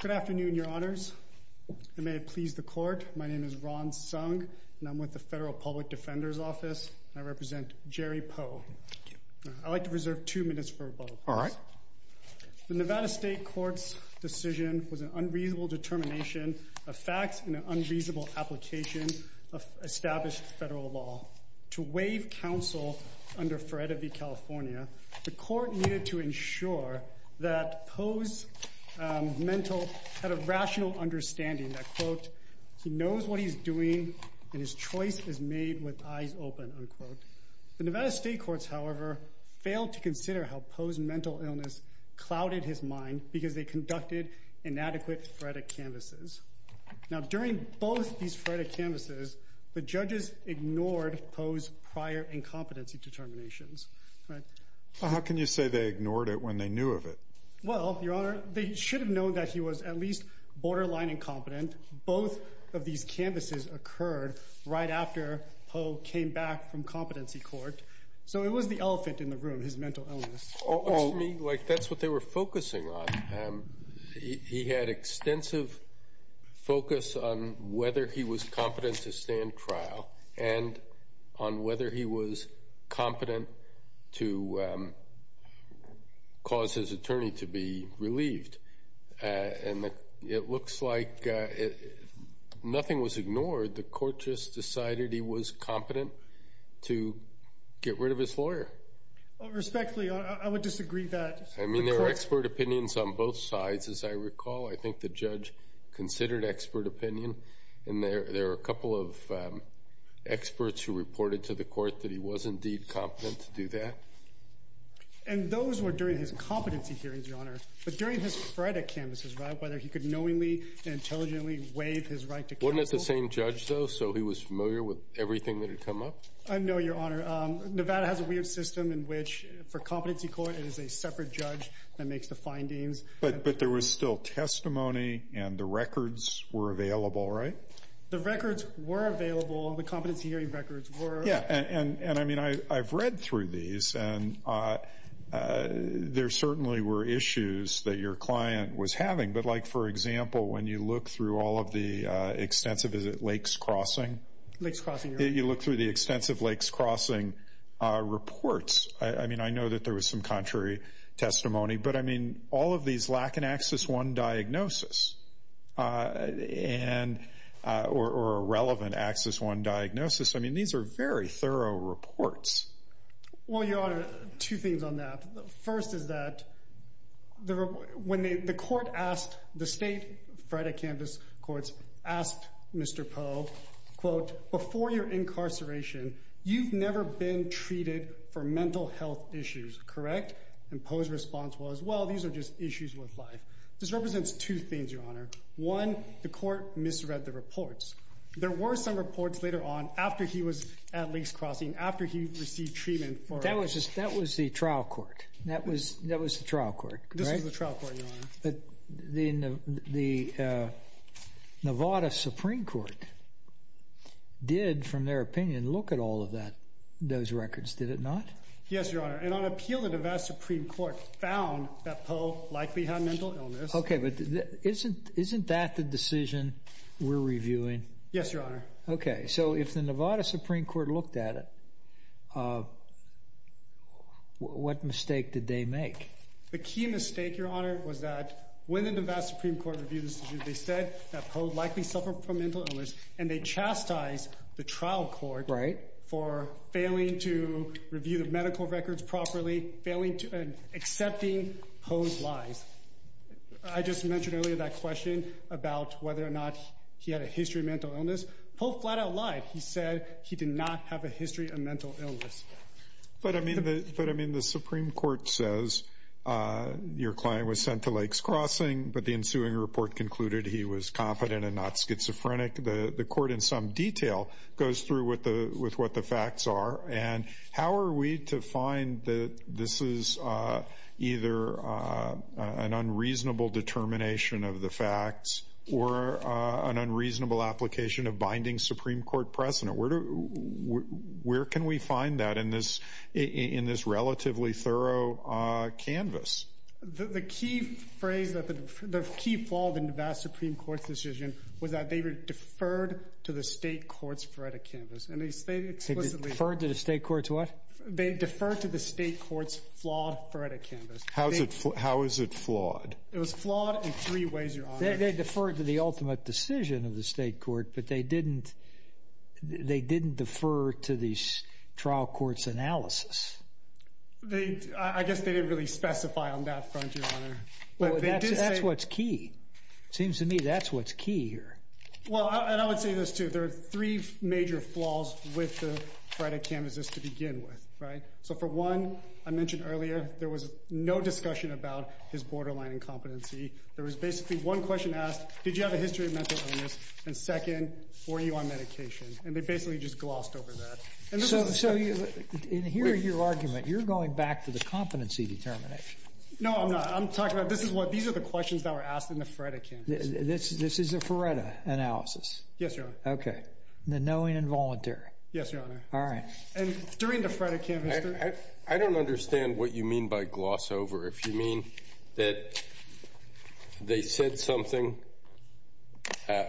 Good afternoon, Your Honors. May it please the Court, my name is Ron Sung, and I'm with the Federal Public Defender's Office. I represent Jerry Pough. I'd like to reserve two minutes for rebuttal, please. The Nevada State Court's decision was an unreasonable determination of facts and an unreasonable application of established federal law. To waive counsel under FREDA v. California, the Court needed to ensure that Pough's mental, had a rational understanding that, quote, he knows what he's doing and his choice is made with eyes open, unquote. The Nevada State Courts, however, failed to consider how Pough's mental illness clouded his mind because they conducted inadequate FREDA canvases. Now during both these FREDA canvases, the judges ignored Pough's prior incompetency determinations, right? Well, how can you say they ignored it when they knew of it? Well, Your Honor, they should have known that he was at least borderline incompetent. Both of these canvases occurred right after Pough came back from competency court. So it was the elephant in the room, his mental illness. Oh, excuse me, like that's what they were focusing on. He had extensive focus on whether he was competent to stand trial and on whether he was competent to cause his attorney to be relieved. And it looks like nothing was ignored. The Court just decided he was competent to get rid of his lawyer. Respectfully, I would disagree that. I mean, there are expert opinions on both sides, as I recall. I think the judge considered expert opinion. And there are a couple of experts who reported to the Court that he was indeed competent to do that. And those were during his competency hearings, Your Honor. But during his FREDA canvases, right, whether he could knowingly and intelligently waive his right to counsel. Wasn't it the same judge, though? So he was familiar with everything that had come up? No, Your Honor. Nevada has a weird system in which, for competency court, it is a separate judge that makes the findings. But there was still testimony and the records were available, right? The records were available. The competency hearing records were. Yeah, and I mean, I've read through these and there certainly were issues that your client was having. But like, for example, when you look through all of the extensive, is it Lakes Crossing? Lakes Crossing, Your Honor. You look through the extensive Lakes Crossing reports. I mean, I know that there was some contrary testimony. But I mean, all of these lack an Axis I diagnosis or a relevant Axis I diagnosis. I mean, these are very thorough reports. Well, Your Honor, two things on that. First is that when the court asked, the state FREDA canvass courts asked Mr. Poe, quote, before your incarceration, you've never been treated for mental health issues, correct? And Poe's response was, well, these are just issues with life. This represents two things, Your Honor. One, the court misread the reports. There were some reports later on after he was at Lakes Crossing, after he received treatment. But that was the trial court. That was the trial court, correct? This was the trial court, Your Honor. But the Nevada Supreme Court did, from their opinion, look at all of those records, did it not? Yes, Your Honor. And on appeal, the Nevada Supreme Court found that Poe likely had mental illness. Okay, but isn't that the decision we're reviewing? Yes, Your Honor. Okay. So if the Nevada Supreme Court looked at it, what mistake did they make? The key mistake, Your Honor, was that when the Nevada Supreme Court reviewed this, they said that Poe likely suffered from mental illness and they chastised the trial court for failing to review the medical records properly, and accepting Poe's lies. I just mentioned earlier that question about whether or not he had a history of mental illness. Poe flat out lied. He said he did not have a history of mental illness. But I mean, the Supreme Court says your client was sent to Lakes Crossing, but the ensuing report concluded he was confident and not schizophrenic. The court, in some detail, goes through with what the facts are. And how are we to find that this is either an unreasonable determination of the facts or an unreasonable application of binding Supreme Court precedent? Where can we find that in this relatively thorough canvas? The key phrase, the key flaw of the Nevada Supreme Court's decision was that they were deferred to the state courts for a canvas. They were deferred to the state courts for what? They deferred to the state courts for a canvas. How is it flawed? It was flawed in three ways, Your Honor. They deferred to the ultimate decision of the state court, but they didn't defer to the trial court's analysis. They, I guess they didn't really specify on that front, Your Honor. Well, that's what's key. Seems to me that's what's key here. Well, and I would say this too. There are three major flaws with the credit canvases to begin with, right? So for one, I mentioned earlier, there was no discussion about his borderline incompetency. There was basically one question asked, did you have a history of mental illness? And second, were you on medication? And they basically just glossed over that. So in hearing your argument, you're going back to the competency determination. No, I'm not. I'm talking about this is what these are the questions that were asked in the FREDA canvases. This is a FREDA analysis? Yes, Your Honor. Okay. The knowing and voluntary. Yes, Your Honor. All right. And during the FREDA canvases. I don't understand what you mean by gloss over. If you mean that they said something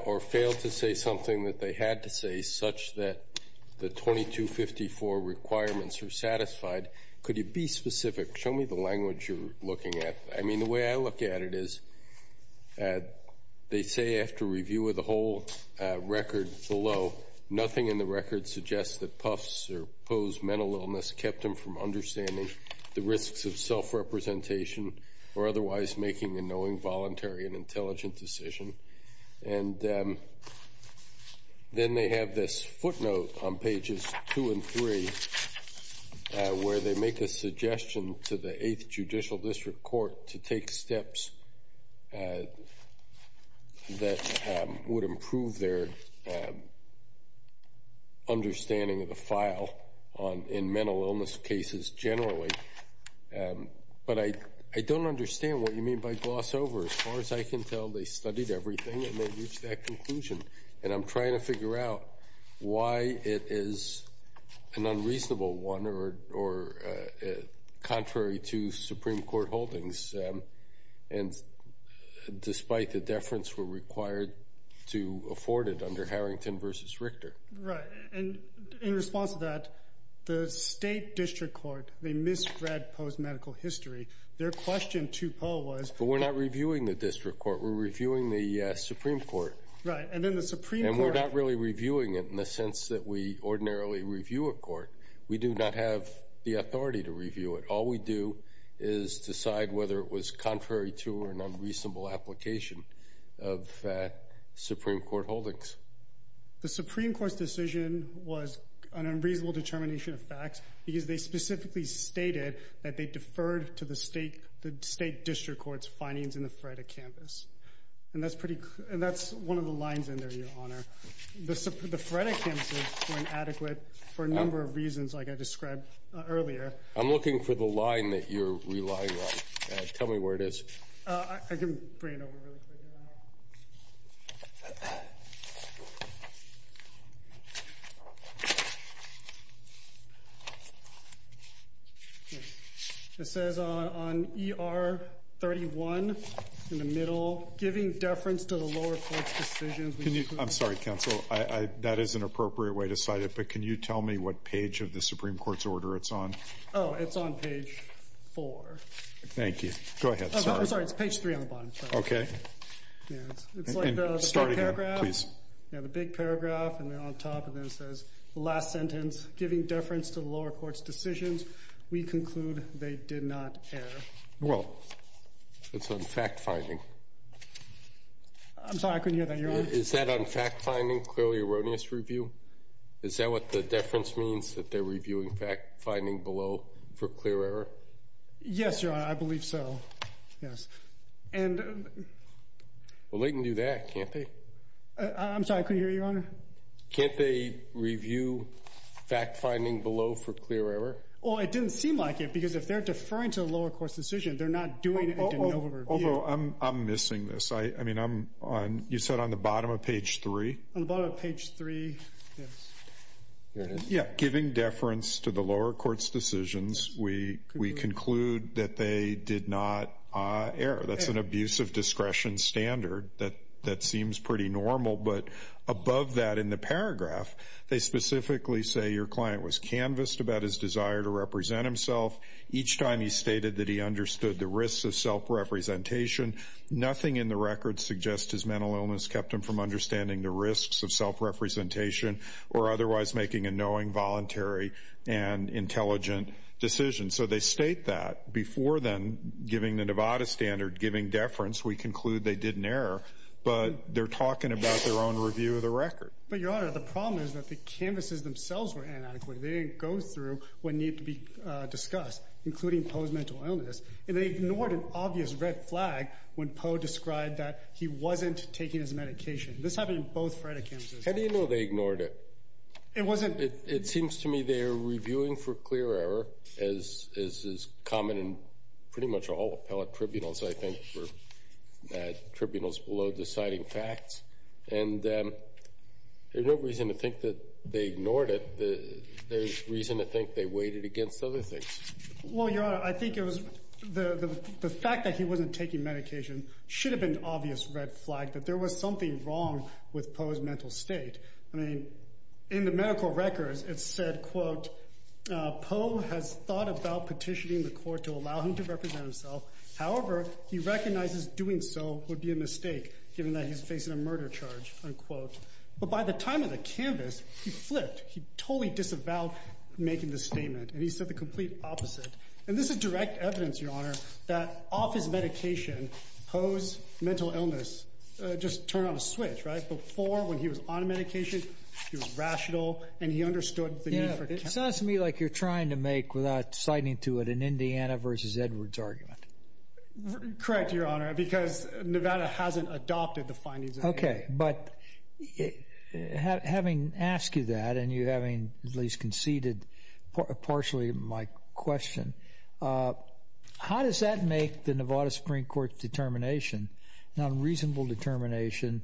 or failed to say something that they had to say, such that the 2254 requirements are satisfied. Could you be specific? Show me the language you're looking at. I mean, the way I look at it is they say after review of the whole record below, nothing in the record suggests that puffs or pose mental illness kept them from understanding the risks of self-representation or otherwise making a knowing voluntary and intelligent decision. And then they have this footnote on pages two and three, where they make a suggestion to the 8th Judicial District Court to take steps that would improve their understanding of the file in mental illness cases generally. But I don't understand what you mean by gloss over. As far as I can tell, they studied everything and they reached that conclusion. And I'm trying to figure out why it is an unreasonable one or contrary to Supreme Court holdings. And despite the deference, we're required to afford it under Harrington versus Richter. Right. And in response to that, the State District Court, they misread Poe's medical history. Their question to Poe was. We're not reviewing the District Court. We're reviewing the Supreme Court. Right. And then the Supreme Court. And we're not really reviewing it in the sense that we ordinarily review a court. We do not have the authority to review it. All we do is decide whether it was contrary to or an unreasonable application of Supreme Court holdings. The Supreme Court's decision was an unreasonable determination of facts because they specifically stated that they deferred to the State District Court's findings in the Freddick campus. And that's one of the lines in there, Your Honor. The Freddick campuses were inadequate for a number of reasons, like I described earlier. I'm looking for the line that you're relying on. Tell me where it is. I can bring it over really quick. It says on ER 31 in the middle, giving deference to the lower court's decisions. Can you? I'm sorry, counsel. That is an appropriate way to cite it. But can you tell me what page of the Supreme Court's order it's on? Oh, it's on page four. Thank you. Go ahead. Sorry. I'm sorry. It's page three on the bottom. Okay. It's like the paragraph. Please. Yeah. The big paragraph. And then on top of that, it says the last sentence, giving deference to the lower court's decisions, we conclude they did not err. Well, it's on fact-finding. I'm sorry. I couldn't hear that, Your Honor. Is that on fact-finding, clearly erroneous review? Is that what the deference means, that they're reviewing fact-finding below for clear error? Yes, Your Honor. I believe so. Yes. And... I'm sorry. I couldn't hear you, Your Honor. Can't they review fact-finding below for clear error? Well, it didn't seem like it, because if they're deferring to the lower court's decision, they're not doing a de novo review. Oh, I'm missing this. You said on the bottom of page three? On the bottom of page three, yes. Here it is. Yeah. Giving deference to the lower court's decisions, we conclude that they did not err. That's an abuse of discretion standard that seems pretty normal. But above that, in the paragraph, they specifically say your client was canvassed about his desire to represent himself. Each time he stated that he understood the risks of self-representation. Nothing in the record suggests his mental illness kept him from understanding the risks of self-representation or otherwise making a knowing, voluntary, and intelligent decision. So they state that. Before then, giving the Nevada standard, giving deference, we conclude they did an error. But they're talking about their own review of the record. But, Your Honor, the problem is that the canvasses themselves were inadequate. They didn't go through what needed to be discussed, including Poe's mental illness. And they ignored an obvious red flag when Poe described that he wasn't taking his medication. This happened in both Freda canvasses. How do you know they ignored it? It wasn't It seems to me they are reviewing for clear error, as is common in pretty all appellate tribunals, I think, for tribunals below deciding facts. And there's no reason to think that they ignored it. There's reason to think they weighed it against other things. Well, Your Honor, I think it was the fact that he wasn't taking medication should have been an obvious red flag that there was something wrong with Poe's mental state. I mean, in the medical records, it said, quote, Poe has thought about petitioning the court to allow him to represent himself. However, he recognizes doing so would be a mistake, given that he's facing a murder charge, unquote. But by the time of the canvass, he flipped. He totally disavowed making the statement. And he said the complete opposite. And this is direct evidence, Your Honor, that off his medication, Poe's mental illness just turned on a switch, right? Before, when he was on medication, he was rational and he understood the need for it. Sounds to me like you're trying to make without citing to it an Indiana versus Edwards argument. Correct, Your Honor, because Nevada hasn't adopted the findings. OK, but having asked you that and you having at least conceded partially my question, how does that make the Nevada Supreme Court's determination, non-reasonable determination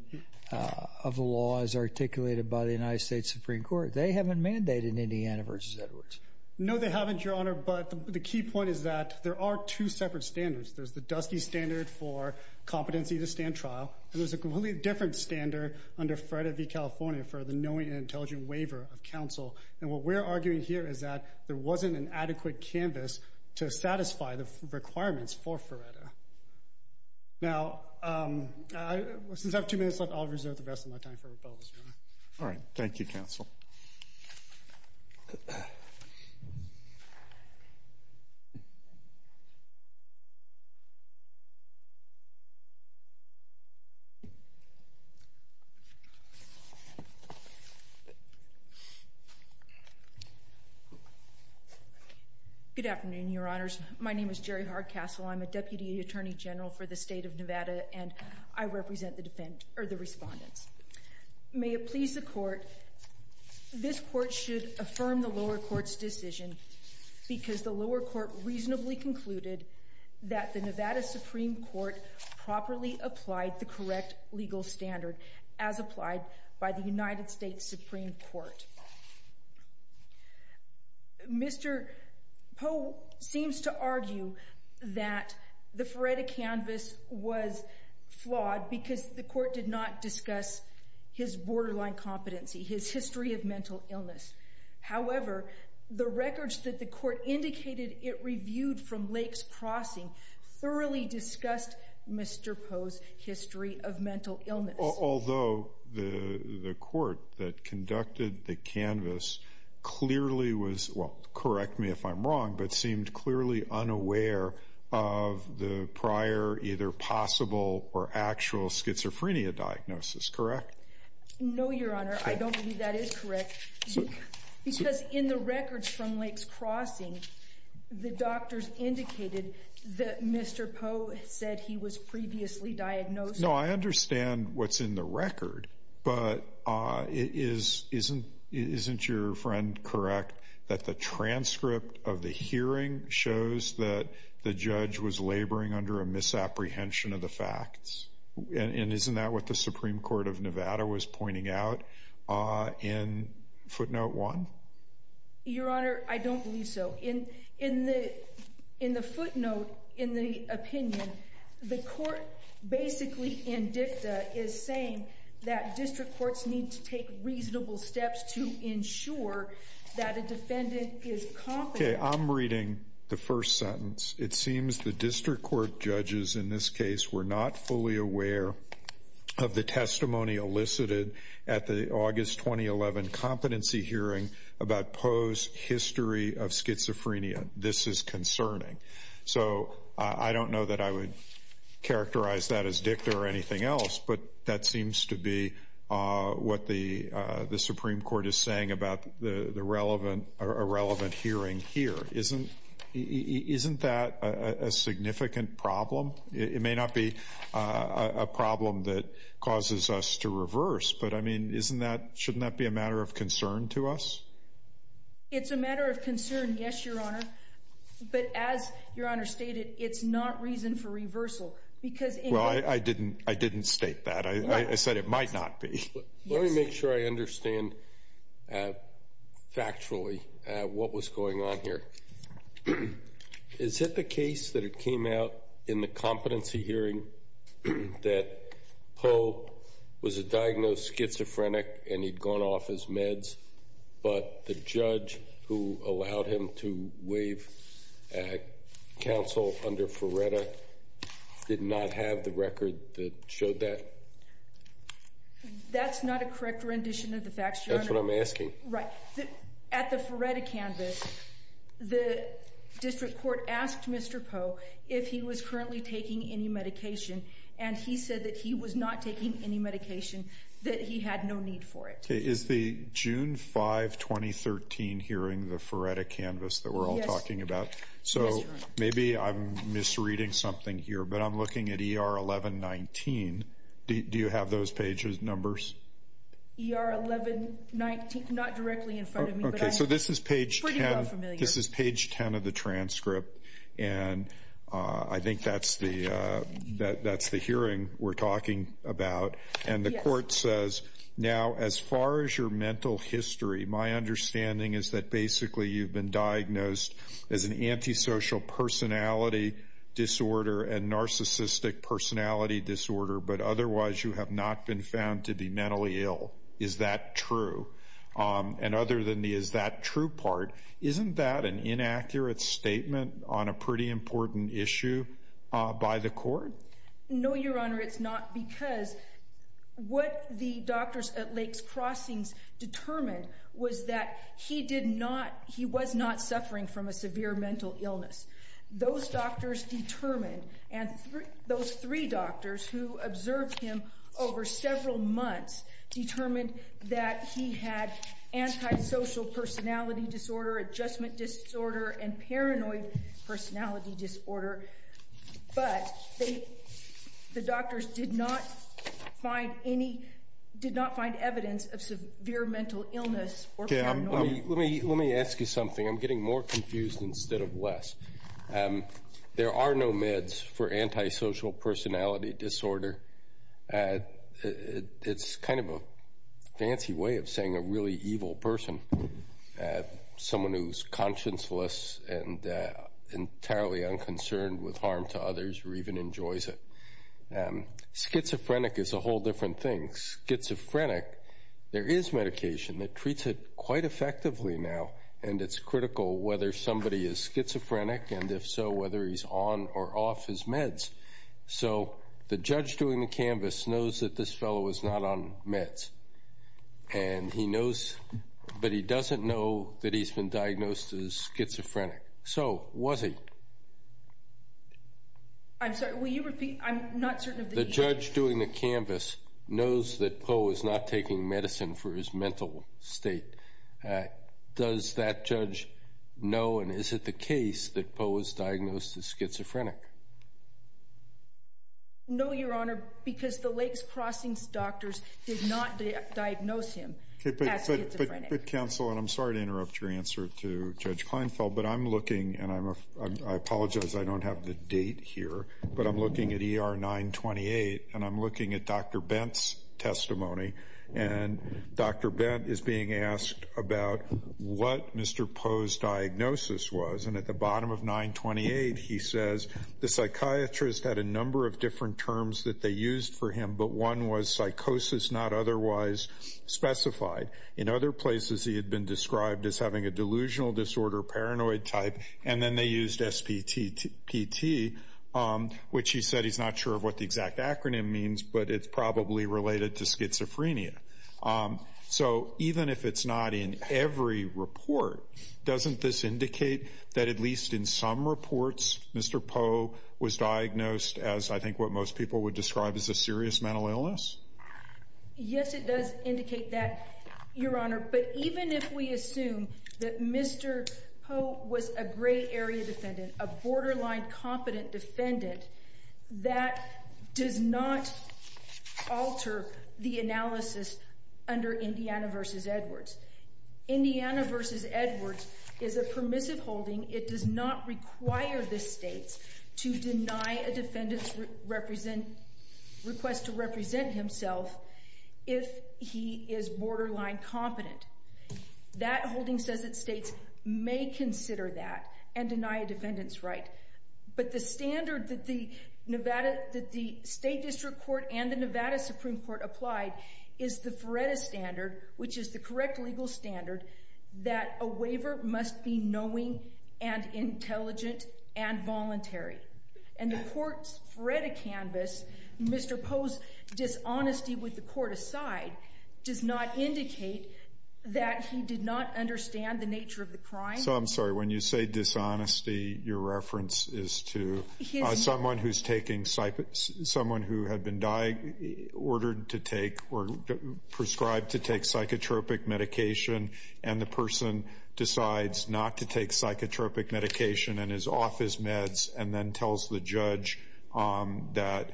of the law as articulated by the United States Supreme Court? They haven't mandated Indiana versus Edwards. No, they haven't, Your Honor. But the key point is that there are two separate standards. There's the Dusky standard for competency to stand trial. And there's a completely different standard under Feretta v. California for the knowing and intelligent waiver of counsel. And what we're arguing here is that there wasn't an adequate canvas to satisfy the requirements for Feretta. Now, since I have two minutes left, I'll reserve the rest of my time for rebuttals, Your Honor. All right. Thank you, counsel. Good afternoon, Your Honors. My name is Jerry Hardcastle. I'm a Deputy Attorney General for the State of Nevada, and I represent the defendants, or the respondents. May it please the Court, this Court should affirm the lower court's decision because the lower court reasonably concluded that the Nevada Supreme Court properly applied the correct legal standard as applied by the United States Supreme Court. Mr. Poe seems to argue that the Feretta canvas was flawed because the Court did not discuss his borderline competency, his history of mental illness. However, the records that the Court indicated it reviewed from Lakes Crossing thoroughly discussed Mr. Poe's history of mental illness. Although the Court that conducted the canvas clearly was, well, correct me if I'm wrong, but seemed clearly unaware of the prior either possible or actual schizophrenia diagnosis. Correct? No, Your Honor. I don't believe that is correct because in the records from Lakes Crossing, the doctors indicated that Mr. Poe said he was previously diagnosed. No, I understand what's in the record, but isn't your friend correct that the transcript of the hearing shows that the judge was laboring under a misapprehension of the facts? And isn't that what the Supreme Court of Nevada was pointing out in footnote one? Your Honor, I don't believe so. In the footnote, in the opinion, the Court basically in dicta is saying that district courts need to take reasonable steps to ensure that a defendant is competent. Okay, I'm reading the first sentence. It seems the district court judges in this case were not fully aware of the testimony elicited at the August 2011 competency hearing about Poe's history of schizophrenia. This is concerning. So I don't know that I would characterize that as dicta or anything else, but that seems to be what the Supreme Court is saying about the relevant, irrelevant hearing here. Isn't that a significant problem? It may not be a problem that causes us to reverse, but I mean, isn't that, shouldn't that be a matter of concern to us? It's a matter of concern. Yes, Your Honor. But as Your Honor stated, it's not reason for reversal because... Well, I didn't state that. I said it might not be. Let me make sure I understand factually what was going on here. Is it the case that it came out in the competency hearing that Poe was a diagnosed schizophrenic and he'd gone off his meds, but the judge who allowed him to waive counsel under Ferretta did not have the record that showed that? That's not a correct rendition of the facts, Your Honor. That's what I'm asking. Right. At the Ferretta canvas, the district court asked Mr. Poe if he was currently taking any medication, and he said that he was not taking any medication, that he had no need for it. Okay. Is the June 5, 2013 hearing the Ferretta canvas that we're all talking about? So maybe I'm misreading something here, but I'm looking at ER 1119. Do you have those pages, numbers? ER 1119, not directly in front of me. Okay. So this is page 10 of the transcript, and I think that's the hearing we're talking about. And the court says, now, as far as your mental history, my understanding is that basically you've been diagnosed as an antisocial personality disorder and narcissistic personality disorder, but otherwise you have not been found to be mentally ill. Is that true? And other than the is that true part, isn't that an inaccurate statement on a pretty important issue by the court? No, Your Honor, it's not, because what the doctors at Lakes Crossings determined was that he did not, he was not suffering from a severe mental illness. Those doctors determined, and those three doctors who observed him over several months determined that he had antisocial personality disorder, adjustment disorder, and paranoid personality disorder, but the doctors did not find any, did not find evidence of severe mental illness or paranoia. Let me ask you something. I'm getting more confused instead of less. There are no meds for antisocial personality disorder. It's kind of a fancy way of saying a really evil person, someone who's conscienceless and entirely unconcerned with harm to others or even enjoys it. Schizophrenic is a whole different thing. Schizophrenic, there is medication that treats it quite effectively now, and it's critical whether somebody is schizophrenic and if so, whether he's on or off his meds. So the judge doing the canvas knows that this fellow is not on meds, and he knows, but he doesn't know that he's been diagnosed as schizophrenic. So was he? I'm sorry, will you repeat? I'm not certain. The judge doing the canvas knows that Poe is not taking medicine for his mental state. Does that judge know, and is it the case that Poe was diagnosed as schizophrenic? No, Your Honor, because the Lakes Crossing doctors did not diagnose him as schizophrenic. But counsel, and I'm sorry to interrupt your answer to Judge Kleinfeld, but I'm looking, and I apologize, I don't have the date here, but I'm looking at ER 928, and I'm looking at Dr. Bent is being asked about what Mr. Poe's diagnosis was, and at the bottom of 928 he says, the psychiatrist had a number of different terms that they used for him, but one was psychosis not otherwise specified. In other places he had been described as having a delusional disorder, paranoid type, and then they used SPT, which he said he's not sure what the exact acronym means, but it's probably related to schizophrenia. So even if it's not in every report, doesn't this indicate that at least in some reports Mr. Poe was diagnosed as I think what most people would describe as a serious mental illness? Yes, it does indicate that, Your Honor, but even if we assume that Mr. Poe was a gray area defendant, a borderline competent defendant, that does not alter the analysis under Indiana v. Edwards. Indiana v. Edwards is a permissive holding. It does not require the states to deny a defendant's request to represent himself if he is borderline competent. That holding says that states may consider that and deny a defendant's request. But the standard that the Nevada State District Court and the Nevada Supreme Court applied is the Feretta standard, which is the correct legal standard that a waiver must be knowing and intelligent and voluntary. And the court's Feretta canvas, Mr. Poe's dishonesty with the court aside, does not indicate that he did not understand the nature of the crime. I'm sorry, when you say dishonesty, your reference is to someone who had been ordered to take or prescribed to take psychotropic medication and the person decides not to take psychotropic medication and is off his meds and then tells the judge that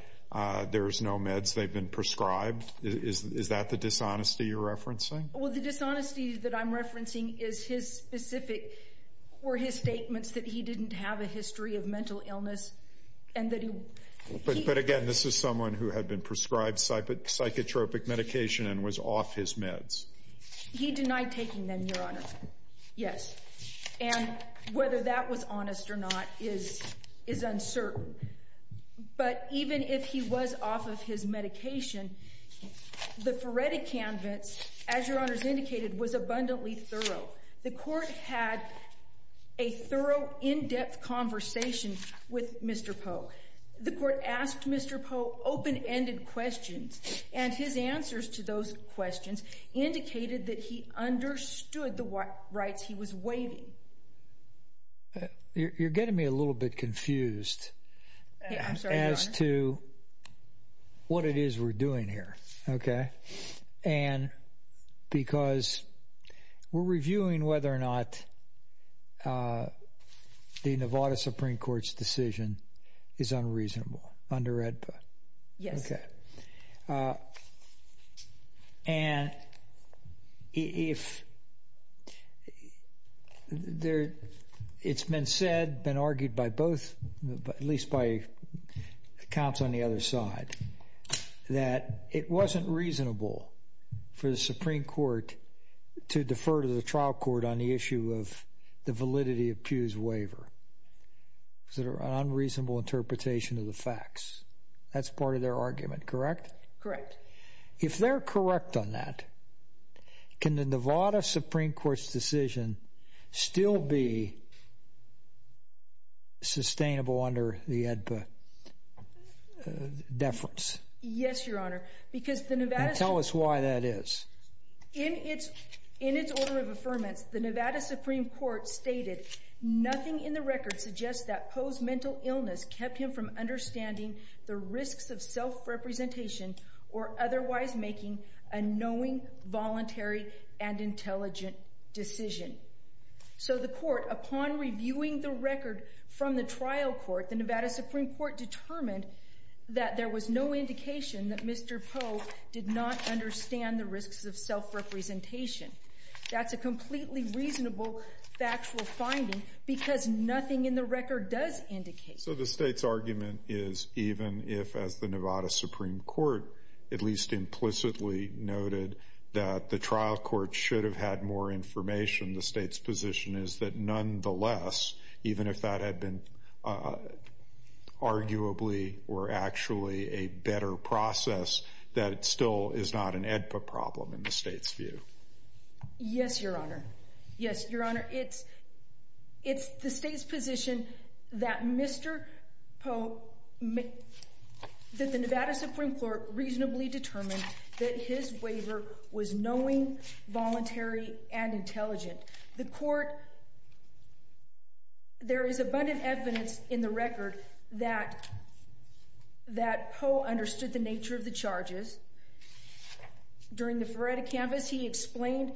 there's no meds, they've been prescribed? Is that the dishonesty you're referencing? Well, the dishonesty that I'm were his statements that he didn't have a history of mental illness and that he. But again, this is someone who had been prescribed psychotropic medication and was off his meds. He denied taking them, Your Honor. Yes. And whether that was honest or not is uncertain. But even if he was off of his medication, the Feretta canvas, as Your Honor's indicated, was abundantly thorough. The court had a thorough, in-depth conversation with Mr. Poe. The court asked Mr. Poe open-ended questions and his answers to those questions indicated that he understood the rights he was waiving. You're getting me a little bit confused as to what it is we're doing here, okay? And because we're reviewing whether or not the Nevada Supreme Court's decision is unreasonable under AEDPA. Yes. Okay. And if it's been said, been argued by both, at least by counsel on the other side, that it wasn't reasonable for the Supreme Court to defer to the trial court on the issue of the validity of Pew's waiver, is it an unreasonable interpretation of the facts? That's part of their argument, correct? Correct. If they're correct on that, can the Nevada Supreme Court's decision still be reasonable? Tell us why that is. In its order of affirmance, the Nevada Supreme Court stated, nothing in the record suggests that Poe's mental illness kept him from understanding the risks of self-representation or otherwise making a knowing, voluntary, and intelligent decision. So the court, upon reviewing the record from the trial court, the Nevada Supreme Court determined that there was no indication that Mr. Poe did not understand the risks of self-representation. That's a completely reasonable factual finding because nothing in the record does indicate. So the state's argument is, even if, as the Nevada Supreme Court at least implicitly noted that the trial court should have had more information, the state's position is that arguably or actually a better process that still is not an EDPA problem in the state's view. Yes, Your Honor. Yes, Your Honor. It's the state's position that Mr. Poe, that the Nevada Supreme Court reasonably determined that his waiver was knowing, voluntary, and intelligent. The court, there is abundant evidence in the record that Poe understood the nature of the charges. During the Feretta Canvas, he explained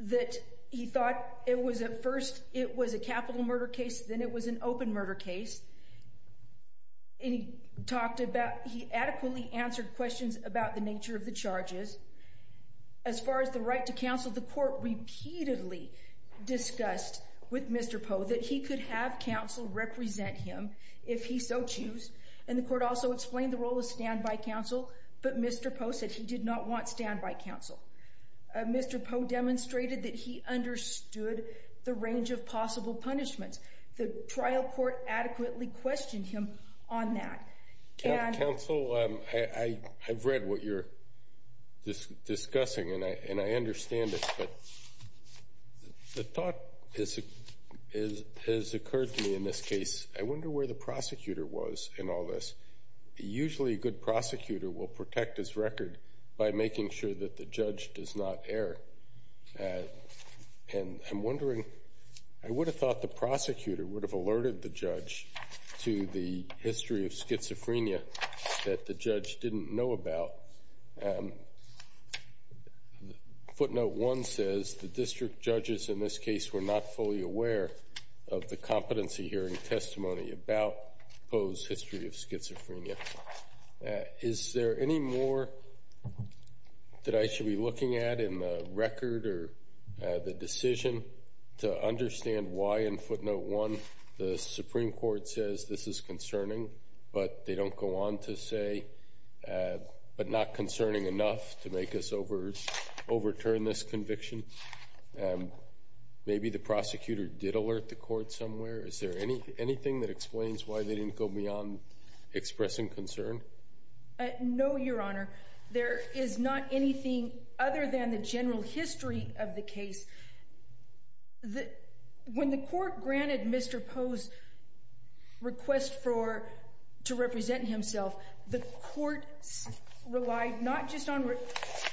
that he thought it was at first, it was a capital murder case, then it was an open murder case. And he talked about, he adequately answered questions about the nature of the charges. As far as the right to counsel, the court repeatedly discussed with Mr. Poe that he could have counsel represent him if he so choose. And the court also explained the role of standby counsel, but Mr. Poe said he did not want standby counsel. Mr. Poe demonstrated that he understood the range of possible punishments. The trial court adequately questioned him on that. Counsel, I've read what you're discussing and I understand it, but the thought has occurred to me in this case, I wonder where the prosecutor was in all this. Usually a good prosecutor will protect his record by making sure that the judge does not err. And I'm wondering, I would have thought the prosecutor would have alerted the judge to the history of schizophrenia that the judge didn't know about. Footnote 1 says the district judges in this case were not fully aware of the competency hearing testimony about Poe's history of schizophrenia. Is there any more that I should be looking at in the record or the decision to understand why in footnote 1 the Supreme Court says this is concerning, but they don't go on to say, but not concerning enough to make us overturn this conviction? Maybe the prosecutor did alert the court somewhere. Is there anything that explains why they didn't go beyond expressing concern? No, Your Honor. There is not anything other than the general history of the case. When the court granted Mr. Poe's request to represent himself, the court relied not just on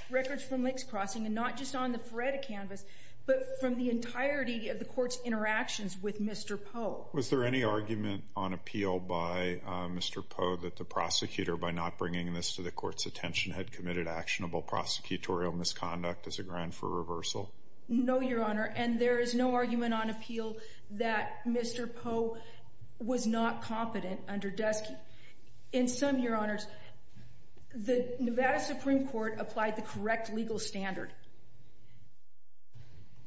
records from Licks Crossing and not just on the Ferretta canvas, but from the entirety of the court's interactions with Mr. Poe. Was there any argument on appeal by Mr. Poe that the prosecutor, by not bringing this to the court's attention, had committed actionable prosecutorial misconduct as a ground for reversal? No, Your Honor, and there is no argument on appeal that Mr. Poe was not competent under Deskey. In sum, Your Honors, the Nevada Supreme Court applied the correct legal standard.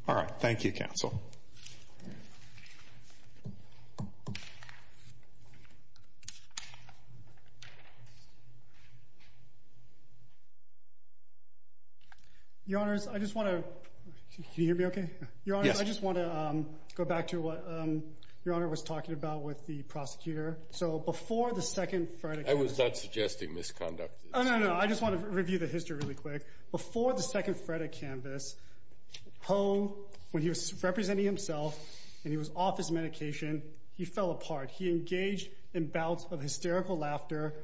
All right. Thank you, counsel. Your Honors, I just want to go back to what Your Honor was talking about with the prosecutor. So before the second Ferretta canvas... I was not suggesting misconduct. Oh, no, no. I just want to review the history really quick. Before the second Ferretta canvas, Poe, when he was representing himself and he was off his medication, he fell apart. He engaged in bouts of hysterical laughter,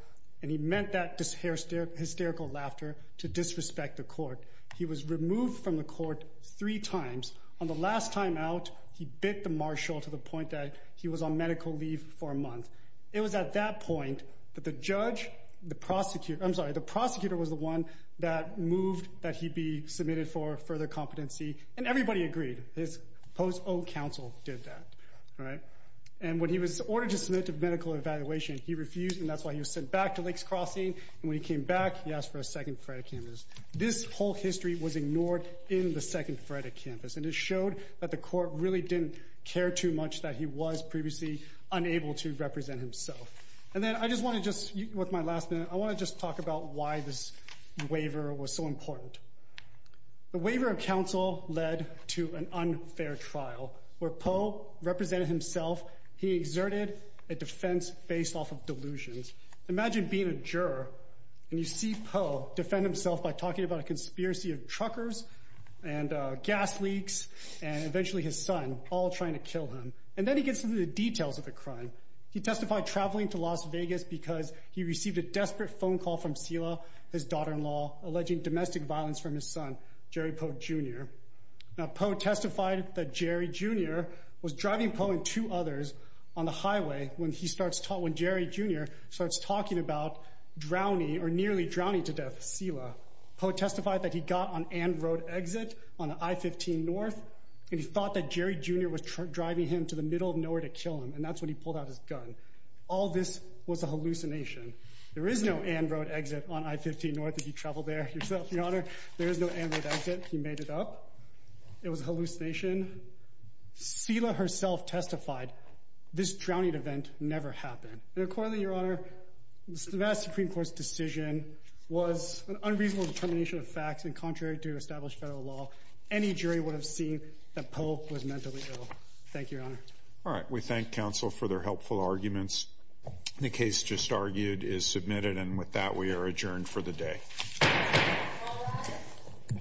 and he meant that hysterical laughter to disrespect the court. He was removed from the court three times. On the last time out, he bit the marshal to the point that he was on medical leave for a month. It was at that point that the judge, the prosecutor... I'm sorry, the prosecutor was the one that moved that he be submitted for further competency, and everybody agreed. His Poe's own counsel did that, all right? And when he was ordered to submit to medical evaluation, he refused, and that's why he was sent back to Lakes Crossing, and when he came back, he asked for a second Ferretta canvas. This whole history was ignored in the second Ferretta canvas, and it showed that the court really didn't care too much that he was previously unable to represent himself. And then I just want to just, with my last minute, I want to just talk about why this waiver was so important. The waiver of counsel led to an unfair trial where Poe represented himself. He exerted a defense based off of delusions. Imagine being a juror, and you see Poe defend himself by talking about a conspiracy of truckers, and gas leaks, and eventually his son, all trying to kill him. And then he gets into the details of the crime. He testified traveling to Las Vegas because he received a desperate phone call from Selah, his daughter-in-law, alleging domestic violence from his son, Jerry Poe Jr. Now Poe testified that Jerry Jr. was driving Poe and two others on the highway when he starts talking, when Jerry Jr. starts talking about drowning, or nearly drowning to death, Selah. Poe testified that he got on Anne Road exit on I-15 North, and he thought that Jerry Jr. was driving him to the middle of nowhere to kill him, and that's when he pulled out his gun. All this was a hallucination. There is no Anne Road exit on I-15 North. If you traveled there yourself, your honor, there is no Anne Road exit. He made it up. It was a hallucination. Selah herself testified this drowning event never happened. And accordingly, your honor, the vast Supreme Court's decision was an unreasonable determination of facts, and contrary to established federal law, any jury would have seen that Poe was mentally ill. Thank you, your honor. All right. We thank counsel for their helpful arguments. The case just argued is submitted, and with that we are adjourned for the day.